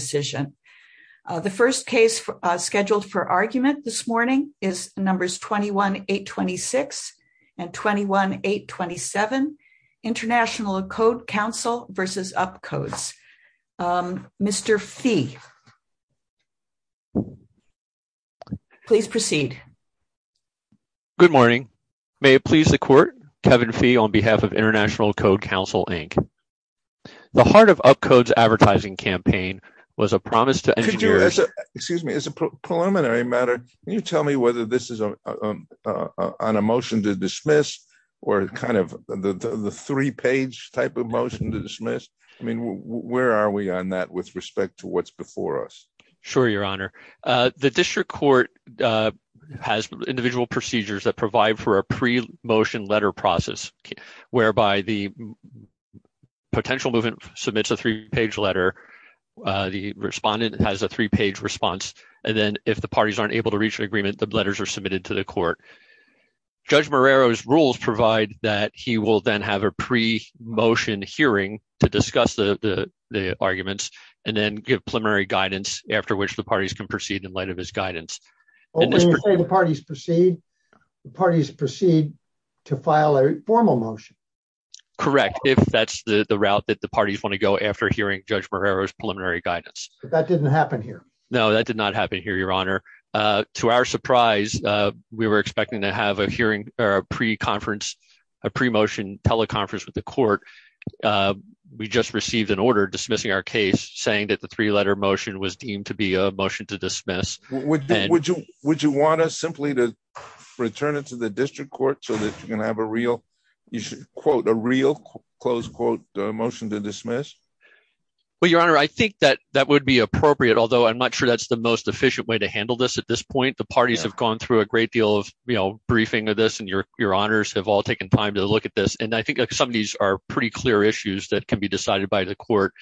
The first case scheduled for argument this morning is numbers 21-826 and 21-827, International Code Council v. Upcodes. Mr. Fee, please proceed. Good morning. May it please the Court, Kevin Fee on behalf of International Code Council, Inc. The heart of Upcodes' advertising campaign was a promise to engineers— Excuse me. As a preliminary matter, can you tell me whether this is on a motion to dismiss or kind of the three-page type of motion to dismiss? I mean, where are we on that with respect to what's before us? Sure, Your Honor. The district court has individual procedures that provide for a pre-motion letter process whereby the potential movement submits a three-page letter, the respondent has a three-page response, and then if the parties aren't able to reach an agreement, the letters are submitted to the court. Judge Marrero's rules provide that he will then have a pre-motion hearing to discuss the arguments and then give preliminary guidance after which the parties can proceed in light of his guidance. When you say the parties proceed, the parties proceed to file a formal motion? Correct, if that's the route that the parties want to go after hearing Judge Marrero's preliminary guidance. But that didn't happen here. No, that did not happen here, Your Honor. To our surprise, we were expecting to have a pre-conference, a pre-motion teleconference with the court. We just received an order dismissing our case saying that the three-letter motion was deemed to be a motion to dismiss. Would you want us simply to return it to the district court so that you can have a real, you should quote, a real, close quote, motion to dismiss? Well, Your Honor, I think that that would be appropriate, although I'm not sure that's the most efficient way to handle this at this point. The parties have gone through a great deal of briefing of this, and Your Honors have all taken time to look at this. And I think some of these are pretty clear issues that can be decided by the court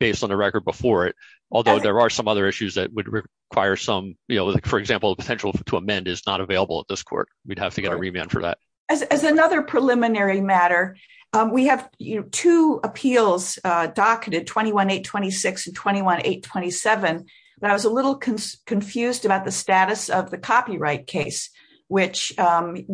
based on the record before it. Although there are some other issues that would require some, you know, for example, the potential to amend is not available at this court. We'd have to get a remand for that. As another preliminary matter, we have two appeals docketed, 21-826 and 21-827. I was a little confused about the status of the copyright case, which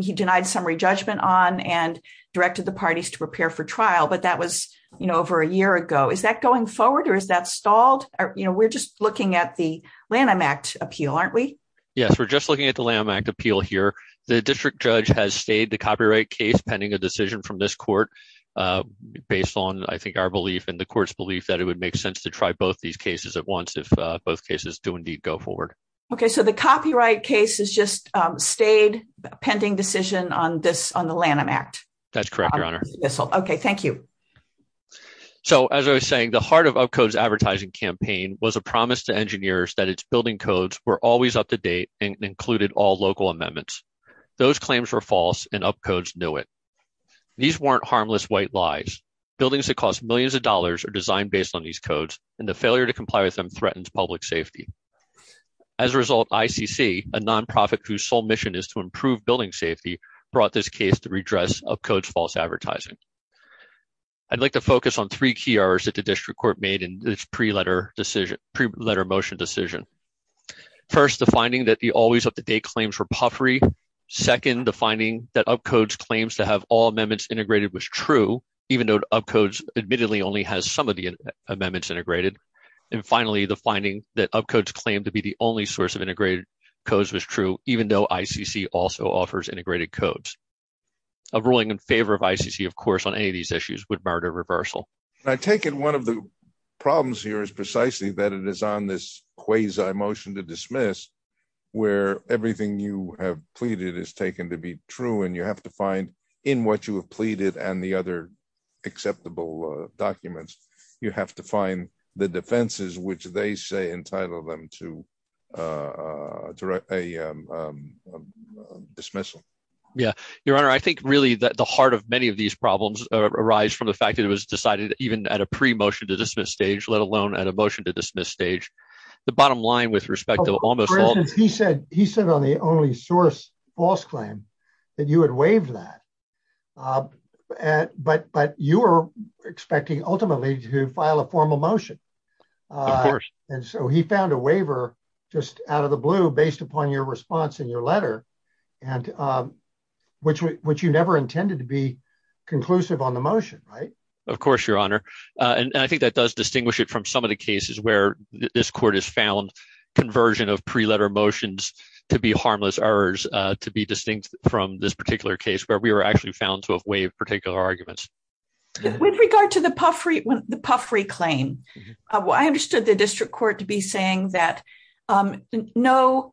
he denied summary judgment on and directed the parties to prepare for trial. But that was, you know, over a year ago. Is that going forward or is that stalled? You know, we're just looking at the Lanham Act appeal, aren't we? Yes, we're just looking at the Lanham Act appeal here. The district judge has stayed the copyright case pending a decision from this court based on, I think, our belief and the court's belief that it would make sense to try both these cases at once if both cases do indeed go forward. Okay, so the copyright case has just stayed pending decision on this, on the Lanham Act? That's correct, Your Honor. Okay, thank you. So, as I was saying, the heart of UpCode's advertising campaign was a promise to engineers that its building codes were always up to date and included all local amendments. Those claims were false and UpCode knew it. These weren't harmless white lies. Buildings that cost millions of dollars are designed based on these codes, and the failure to comply with them threatens public safety. As a result, ICC, a nonprofit whose sole mission is to improve building safety, brought this case to redress UpCode's false advertising. I'd like to focus on three key errors that the district court made in this pre-letter motion decision. First, the finding that the always-up-to-date claims were puffery. Second, the finding that UpCode's claims to have all amendments integrated was true, even though UpCode's admittedly only has some of the amendments integrated. And finally, the finding that UpCode's claim to be the only source of integrated codes was true, even though ICC also offers integrated codes. A ruling in favor of ICC, of course, on any of these issues would mark a reversal. I take it one of the problems here is precisely that it is on this quasi-motion to dismiss where everything you have pleaded is taken to be true, and you have to find in what you have pleaded and the other acceptable documents, you have to find the defenses which they say entitled them to a dismissal. Yeah. Your Honor, I think really that the heart of many of these problems arise from the fact that it was decided even at a pre-motion to dismiss stage, let alone at a motion to dismiss stage. The bottom line with respect to almost all… For instance, he said on the only source false claim that you had waived that, but you were expecting ultimately to file a formal motion. Of course. And so he found a waiver just out of the blue based upon your response in your letter, which you never intended to be conclusive on the motion, right? Of course, Your Honor. And I think that does distinguish it from some of the cases where this court has found conversion of pre-letter motions to be harmless errors to be distinct from this particular case where we were actually found to have waived particular arguments. With regard to the Puffrey claim, I understood the district court to be saying that no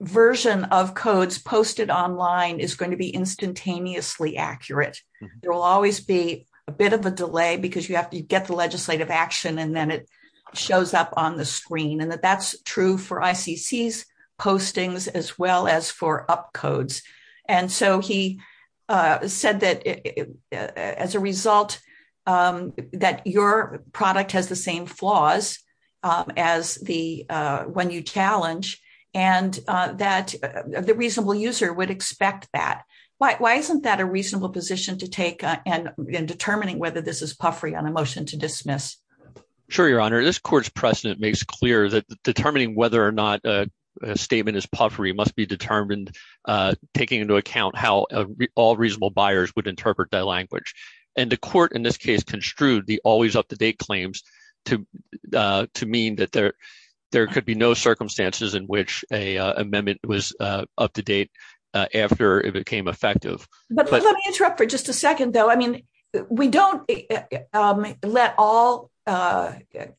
version of codes posted online is going to be instantaneously accurate. There will always be a bit of a delay because you have to get the legislative action and then it shows up on the screen, and that that's true for ICC's postings as well as for UP codes. And so he said that as a result that your product has the same flaws as the one you challenge and that the reasonable user would expect that. Why isn't that a reasonable position to take in determining whether this is Puffrey on a motion to dismiss? Sure, Your Honor. This court's precedent makes clear that determining whether or not a statement is Puffrey must be determined, taking into account how all reasonable buyers would interpret that language. And the court in this case construed the always up-to-date claims to mean that there could be no circumstances in which an amendment was up-to-date after it became effective. But let me interrupt for just a second, though. I mean, we don't let all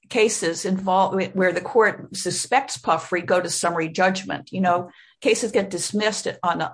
cases involved where the court suspects Puffrey go to summary judgment. You know, cases get dismissed on a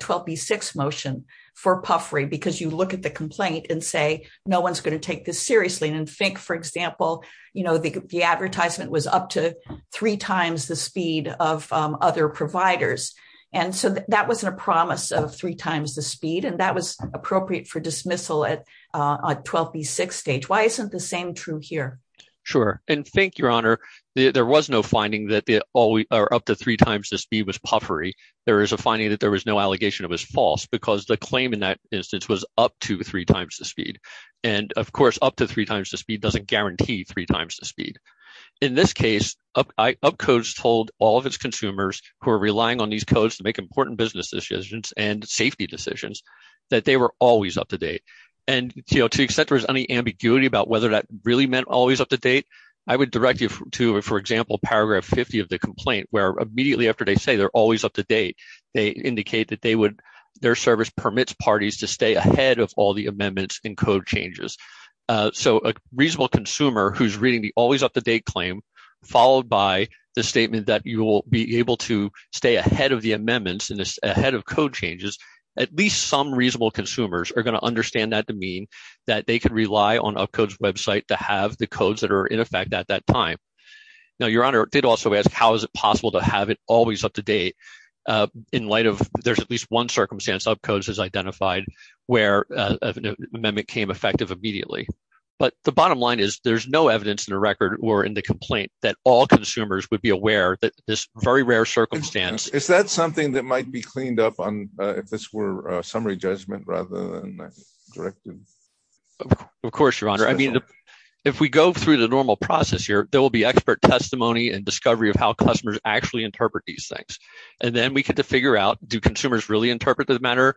12b6 motion for Puffrey because you look at the complaint and say, no one's going to take this seriously and think, for example, you know, the advertisement was up to three times the speed of other providers. And so that wasn't a promise of three times the speed, and that was appropriate for dismissal at a 12b6 stage. Why isn't the same true here? Sure. And thank you, Your Honor. There was no finding that the always up to three times the speed was Puffrey. There is a finding that there was no allegation it was false because the claim in that instance was up to three times the speed. And of course, up to three times the speed doesn't guarantee three times the speed. In this case, UpCodes told all of its consumers who are relying on these codes to make important business decisions and safety decisions that they were always up-to-date. And, you know, to the extent there was any ambiguity about whether that really meant always up-to-date, I would direct you to, for example, paragraph 50 of the complaint where immediately after they say they're always up-to-date, they indicate that their service permits parties to stay ahead of all the amendments and code changes. So a reasonable consumer who's reading the always up-to-date claim, followed by the statement that you will be able to stay ahead of the amendments and ahead of code changes, at least some reasonable consumers are going to understand that to mean that they could rely on UpCodes' website to have the codes that are in effect at that time. Now, Your Honor, I did also ask how is it possible to have it always up-to-date in light of there's at least one circumstance UpCodes has identified where an amendment came effective immediately. But the bottom line is there's no evidence in the record or in the complaint that all consumers would be aware that this very rare circumstance. Is that something that might be cleaned up on if this were a summary judgment rather than a directive? Of course, Your Honor. I mean, if we go through the normal process here, there will be expert testimony and discovery of how customers actually interpret these things. And then we get to figure out, do consumers really interpret the matter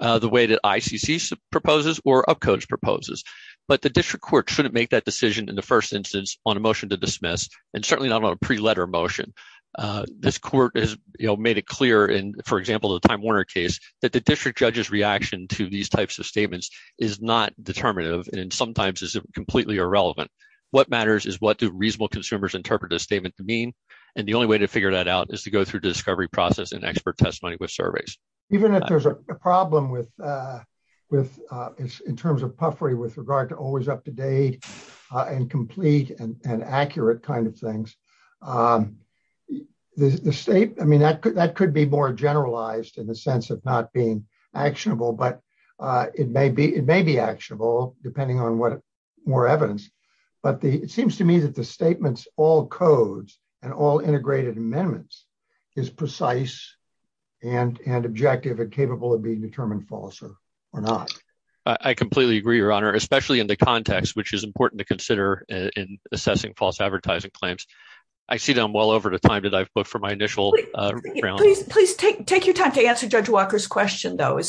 the way that ICC proposes or UpCodes proposes? But the district court shouldn't make that decision in the first instance on a motion to dismiss and certainly not on a pre-letter motion. This court has made it clear in, for example, the Time Warner case that the district judge's reaction to these types of statements is not determinative and sometimes is completely irrelevant. What matters is what do reasonable consumers interpret a statement to mean? And the only way to figure that out is to go through discovery process and expert testimony with surveys. Even if there's a problem with in terms of puffery with regard to always up-to-date and complete and accurate kind of things, the state, I mean, that could be more generalized in the sense of not being actionable, but it may be actionable depending on what more evidence. But it seems to me that the statements, all codes and all integrated amendments is precise and objective and capable of being determined false or not. I completely agree, Your Honor, especially in the context, which is important to consider in assessing false advertising claims. I see them well over the time that I've put for my initial round. Please take your time to answer Judge Walker's question, though.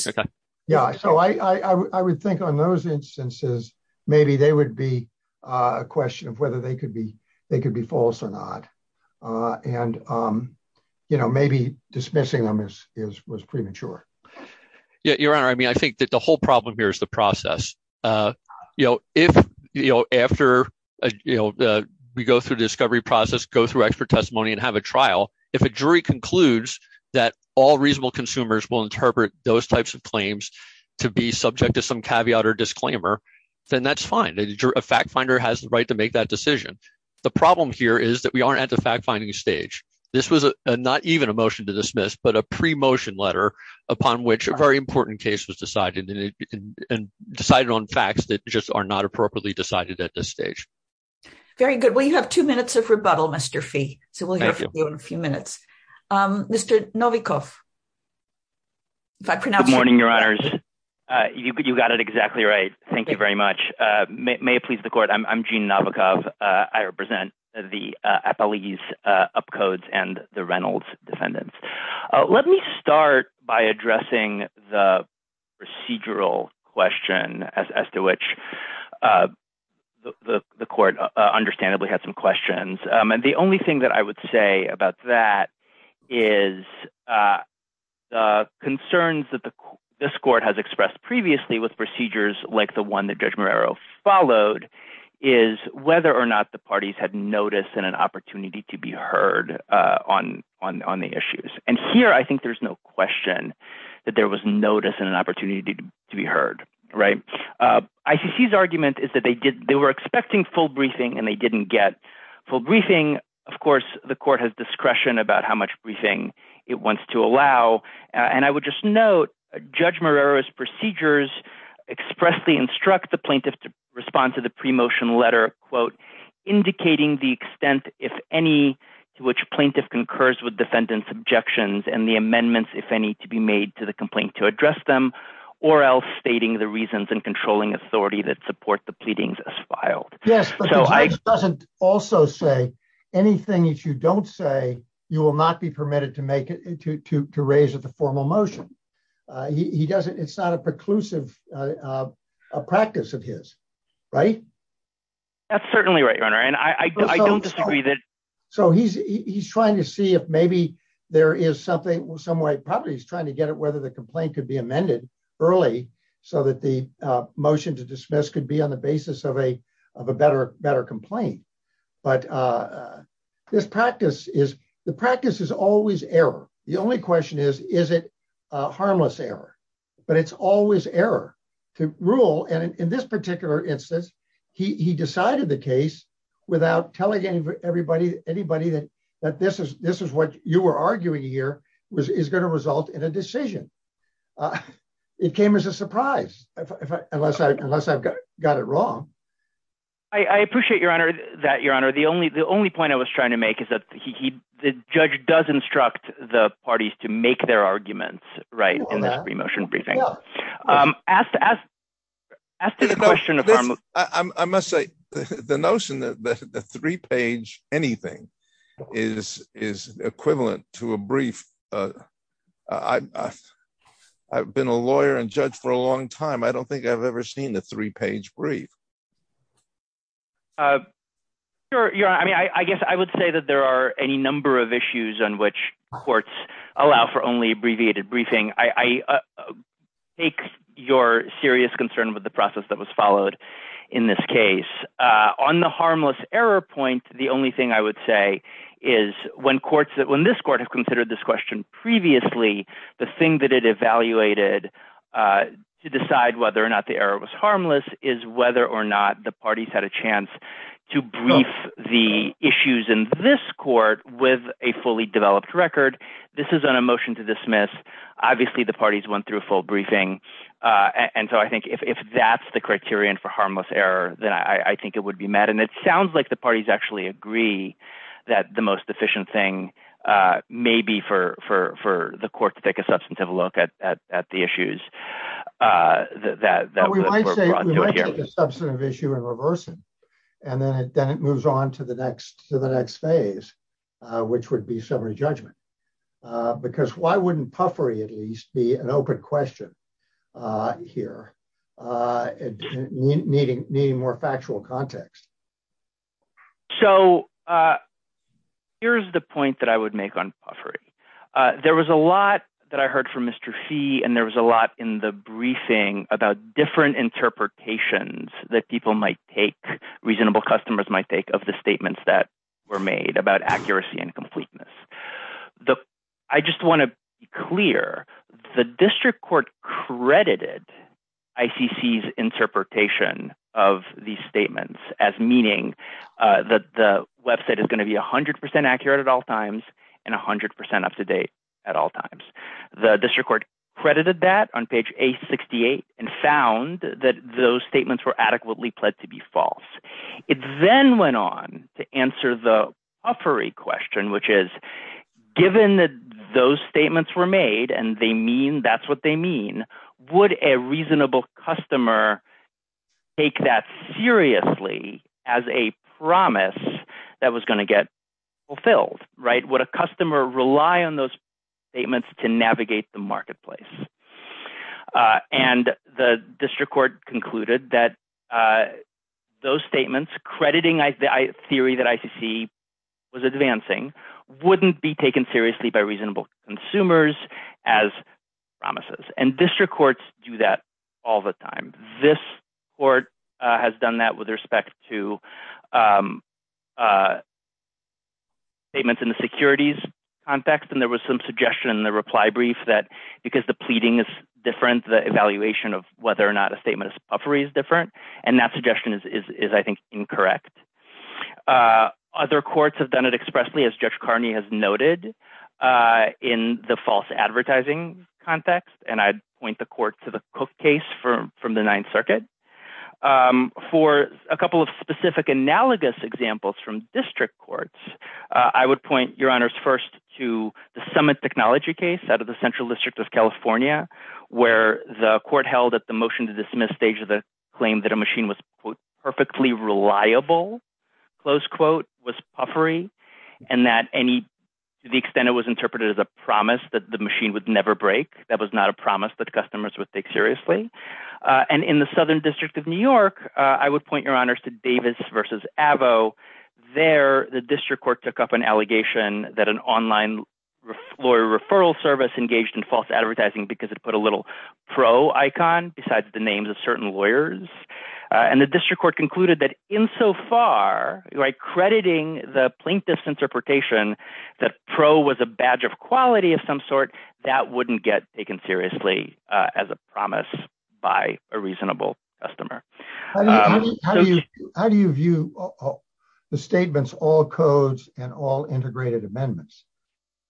Yeah. So I would think on those instances, maybe they would be a question of whether they could be they could be false or not. And, you know, maybe dismissing them is premature. Your Honor, I mean, I think that the whole problem here is the process. You know, if, you know, after, you know, we go through discovery process, go through expert testimony and have a trial, if a jury concludes that all reasonable consumers will interpret those types of claims to be subject to some caveat or disclaimer, then that's fine. A fact finder has the right to make that decision. The problem here is that we aren't at the fact finding stage. This was not even a motion to dismiss, but a pre-motion letter upon which a very important case was decided and decided on facts that just are not appropriately decided at this stage. Very good. Well, you have two minutes of rebuttal, Mr. Fee. So we'll hear from you in a few minutes. Mr. Novikoff. Good morning, Your Honors. You got it exactly right. Thank you very much. May it please the court. I'm Gene Novikoff. I represent the Appalachian Upcodes and the Reynolds defendants. Let me start by addressing the procedural question as to which the court understandably had some questions. And the only thing that I would say about that is the concerns that this court has expressed previously with procedures like the one that Judge Marrero followed is whether or not the parties had notice and an opportunity to be heard on the issues. And here, I think there's no question that there was notice and an opportunity to be heard. ICC's argument is that they were expecting full briefing and they didn't get full briefing. Of course, the court has discretion about how much briefing it wants to allow. And I would just note Judge Marrero's procedures expressly instruct the plaintiff to respond to the pre-motion letter, quote, indicating the extent, if any, to which plaintiff concurs with defendant's objections and the amendments, if any, to be made to the complaint to address them, or else stating the reasons and controlling authority that support the pleadings as filed. Yes, but the judge doesn't also say anything that you don't say, you will not be permitted to make it, to raise at the formal motion. He doesn't, it's not a preclusive practice of his, right? That's certainly right, Your Honor, and I don't disagree that. So he's trying to see if maybe there is something, some way, probably he's trying to get at whether the complaint could be amended early so that the motion to dismiss could be on the basis of a better complaint. But this practice is, the practice is always error. The only question is, is it harmless error? But it's always error to rule, and in this particular instance, he decided the case without telling anybody that this is what you were arguing here is going to result in a decision. It came as a surprise, unless I've got it wrong. I appreciate, Your Honor, that, Your Honor, the only, the only point I was trying to make is that he, the judge does instruct the parties to make their arguments, right? In this motion briefing. Asked, asked, asked the question of harmless. I must say, the notion that the three page anything is, is equivalent to a brief. I've been a lawyer and judge for a long time I don't think I've ever seen the three page brief. Your Honor, I mean, I guess I would say that there are any number of issues on which courts allow for only abbreviated briefing. I take your serious concern with the process that was followed in this case. On the harmless error point, the only thing I would say is when courts that when this court has considered this question previously, the thing that it evaluated to decide whether or not the error was harmless is whether or not the parties had a chance to brief the issues in this court with a fully developed record. This is an emotion to dismiss. Obviously the parties went through full briefing. And so I think if that's the criterion for harmless error, then I think it would be mad and it sounds like the parties actually agree that the most efficient thing, maybe for for for the court to take a substantive look at the issues that we might say substantive issue and reversing, and then it then it moves on to the next to the next phase, which would be summary judgment. Because why wouldn't puffery at least be an open question here. Needing needing more factual context. So, here's the point that I would make on puffery. There was a lot that I heard from Mr fee and there was a lot in the briefing about different interpretations that people might take reasonable customers might take of the statements that were made about accuracy and completeness. I just want to clear the district court credited ICC interpretation of the statements as meaning that the website is going to be 100% accurate at all times and 100% up to date at all times. The district court credited that on page a 68 and found that those statements were adequately pled to be false. It then went on to answer the offer a question which is given that those statements were made and they mean that's what they mean, would a reasonable customer. Take that seriously as a promise that was going to get fulfilled right what a customer rely on those statements to navigate the marketplace. And the district court concluded that those statements crediting I theory that ICC was advancing wouldn't be taken seriously by reasonable consumers as promises and district courts do that all the time. This court has done that with respect to payments in the securities context and there was some suggestion in the reply brief that because the pleading is different the evaluation of whether or not a statement of puffery is different, and that suggestion is I think incorrect. Other courts have done it expressly as Judge Carney has noted in the false advertising context and I'd point the court to the Cook case from the Ninth Circuit for a couple of specific analogous examples from district courts. I would point your honors first to the summit technology case out of the Central District of California, where the court held at the motion to dismiss stage of the claim that a machine was perfectly reliable, close quote was puffery, and that any. The extent it was interpreted as a promise that the machine would never break that was not a promise that customers would take seriously. And in the Southern District of New York, I would point your honors to Davis versus avo there the district court took up an allegation that an online lawyer referral service engaged in false advertising because it put a little pro icon besides the names of certain lawyers, and the district court concluded that in so far, like crediting the plaintiff's interpretation that pro was a badge of quality of some sort that wouldn't get taken seriously as a promise. By a reasonable customer. How do you view the statements all codes and all integrated amendments.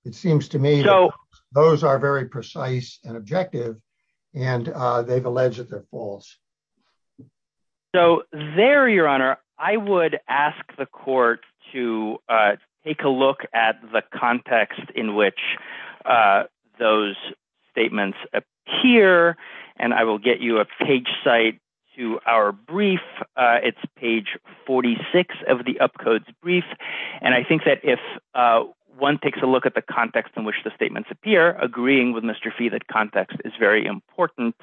It seems to me, though, those are very precise and objective, and they've alleged that they're false. So there your honor, I would ask the court to take a look at the context in which those statements here, and I will get you a page site to our brief. It's page 46 of the up codes brief, and I think that if one takes a look at the context in which the statements appear agreeing with Mr fee that context is very important.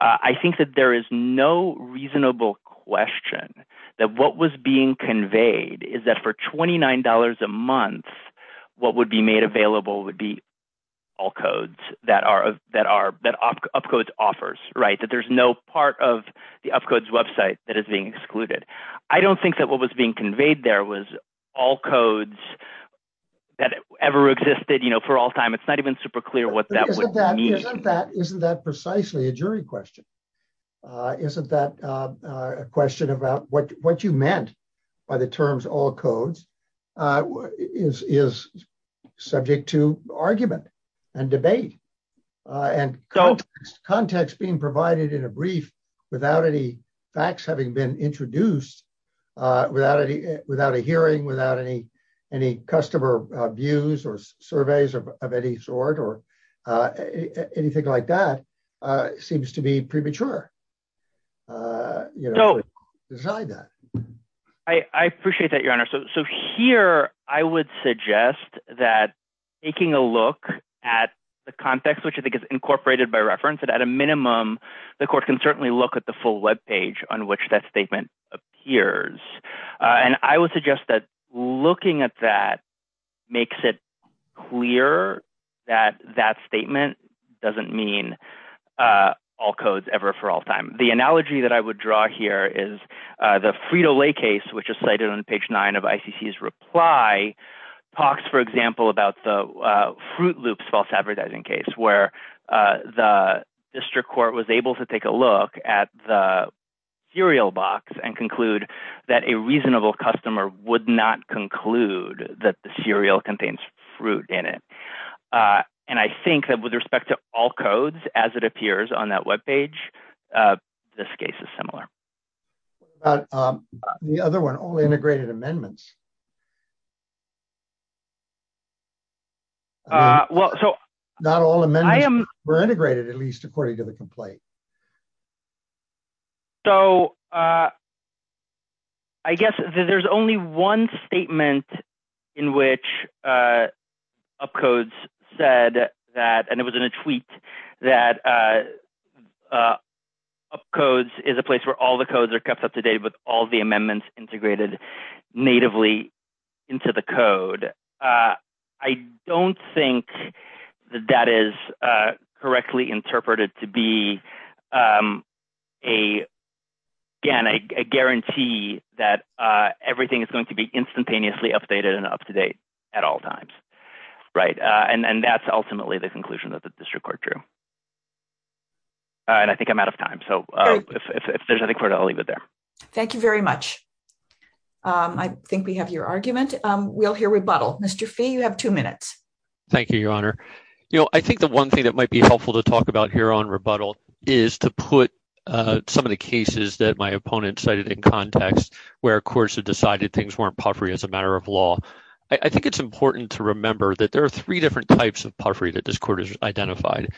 I think that there is no reasonable question that what was being conveyed is that for $29 a month. What would be made available would be all codes that are that are that up codes offers right that there's no part of the up codes website that is being excluded. I don't think that what was being conveyed there was all codes that ever existed you know for all time it's not even super clear what that means that isn't that precisely a jury question. Isn't that a question about what what you meant by the terms all codes is is subject to argument and debate and context context being provided in a brief, without any facts having been introduced. Without any, without a hearing without any, any customer views or surveys of any sort or anything like that seems to be premature. You know, design that I appreciate that your honor so so here, I would suggest that taking a look at the context which I think is incorporated by reference that at a minimum, the court can certainly look at the full web page on which that statement appears, and I would suggest that looking at that makes it clear that that statement doesn't mean all codes ever for all time. The analogy that I would draw here is the Frito-Lay case which is cited on page nine of ICC's reply talks for example about the Fruit Loops false advertising case where the district court was able to take a look at the cereal box and conclude that a reasonable customer would not conclude that the cereal contains fruit in it. And I think that with respect to all codes, as it appears on that web page. This case is similar. The other one only integrated amendments. Well, so not all the men I am integrated at least according to the complaint. I guess there's only one statement in which up codes said that and it was in a tweet that codes is a place where all the codes are kept up to date with all the amendments integrated natively into the code. I don't think that that is correctly interpreted to be a guarantee that everything is going to be instantaneously updated and up to date at all times. Right. And then that's ultimately the conclusion that the district court drew. And I think I'm out of time. So if there's anything I'll leave it there. Thank you very much. I think we have your argument. We'll hear rebuttal. Mr. Fee, you have two minutes. Thank you, Your Honor. You know, I think the one thing that might be helpful to talk about here on rebuttal is to put some of the cases that my opponent cited in context where courts have decided things weren't puffery as a matter of law. I think it's important to remember that there are three different types of puffery that this court has identified.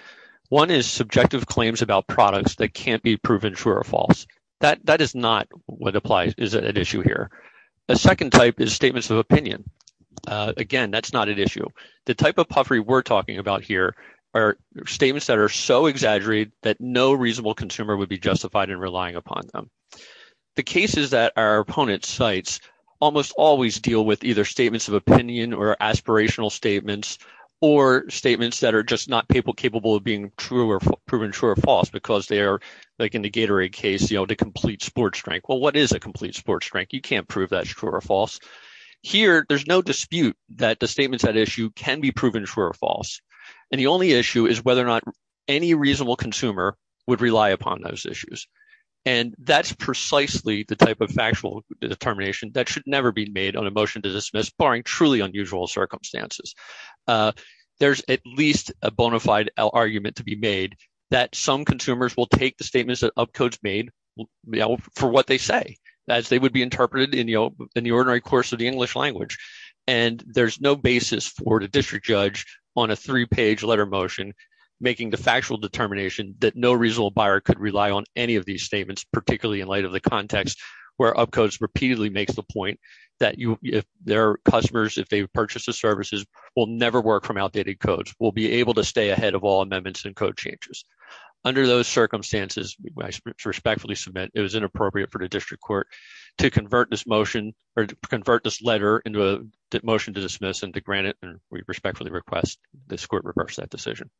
One is subjective claims about products that can't be proven true or false. That that is not what applies. Is it an issue here? A second type is statements of opinion. Again, that's not an issue. The type of puffery we're talking about here are statements that are so exaggerated that no reasonable consumer would be justified in relying upon them. The cases that our opponent cites almost always deal with either statements of opinion or aspirational statements or statements that are just not capable of being true or proven true or false because they are like in the Gatorade case, you know, the complete sports drink. Well, what is a complete sports drink? You can't prove that's true or false. Here, there's no dispute that the statements that issue can be proven true or false. And the only issue is whether or not any reasonable consumer would rely upon those issues. And that's precisely the type of factual determination that should never be made on a motion to dismiss, barring truly unusual circumstances. There's at least a bona fide argument to be made that some consumers will take the statements that UpCodes made for what they say, as they would be interpreted in the ordinary course of the English language. And there's no basis for the district judge on a three-page letter motion making the factual determination that no reasonable buyer could rely on any of these statements, particularly in light of the context where UpCodes repeatedly makes the point that their customers, if they purchase the services, will never work from outdated codes, will be able to stay ahead of all amendments and code changes. Under those circumstances, I respectfully submit it was inappropriate for the district court to convert this motion or convert this letter into a motion to dismiss and to grant it, and we respectfully request this court reverse that decision.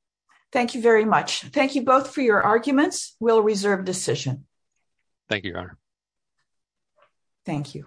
Thank you very much. Thank you both for your arguments. We'll reserve decision. Thank you, Your Honor. Thank you.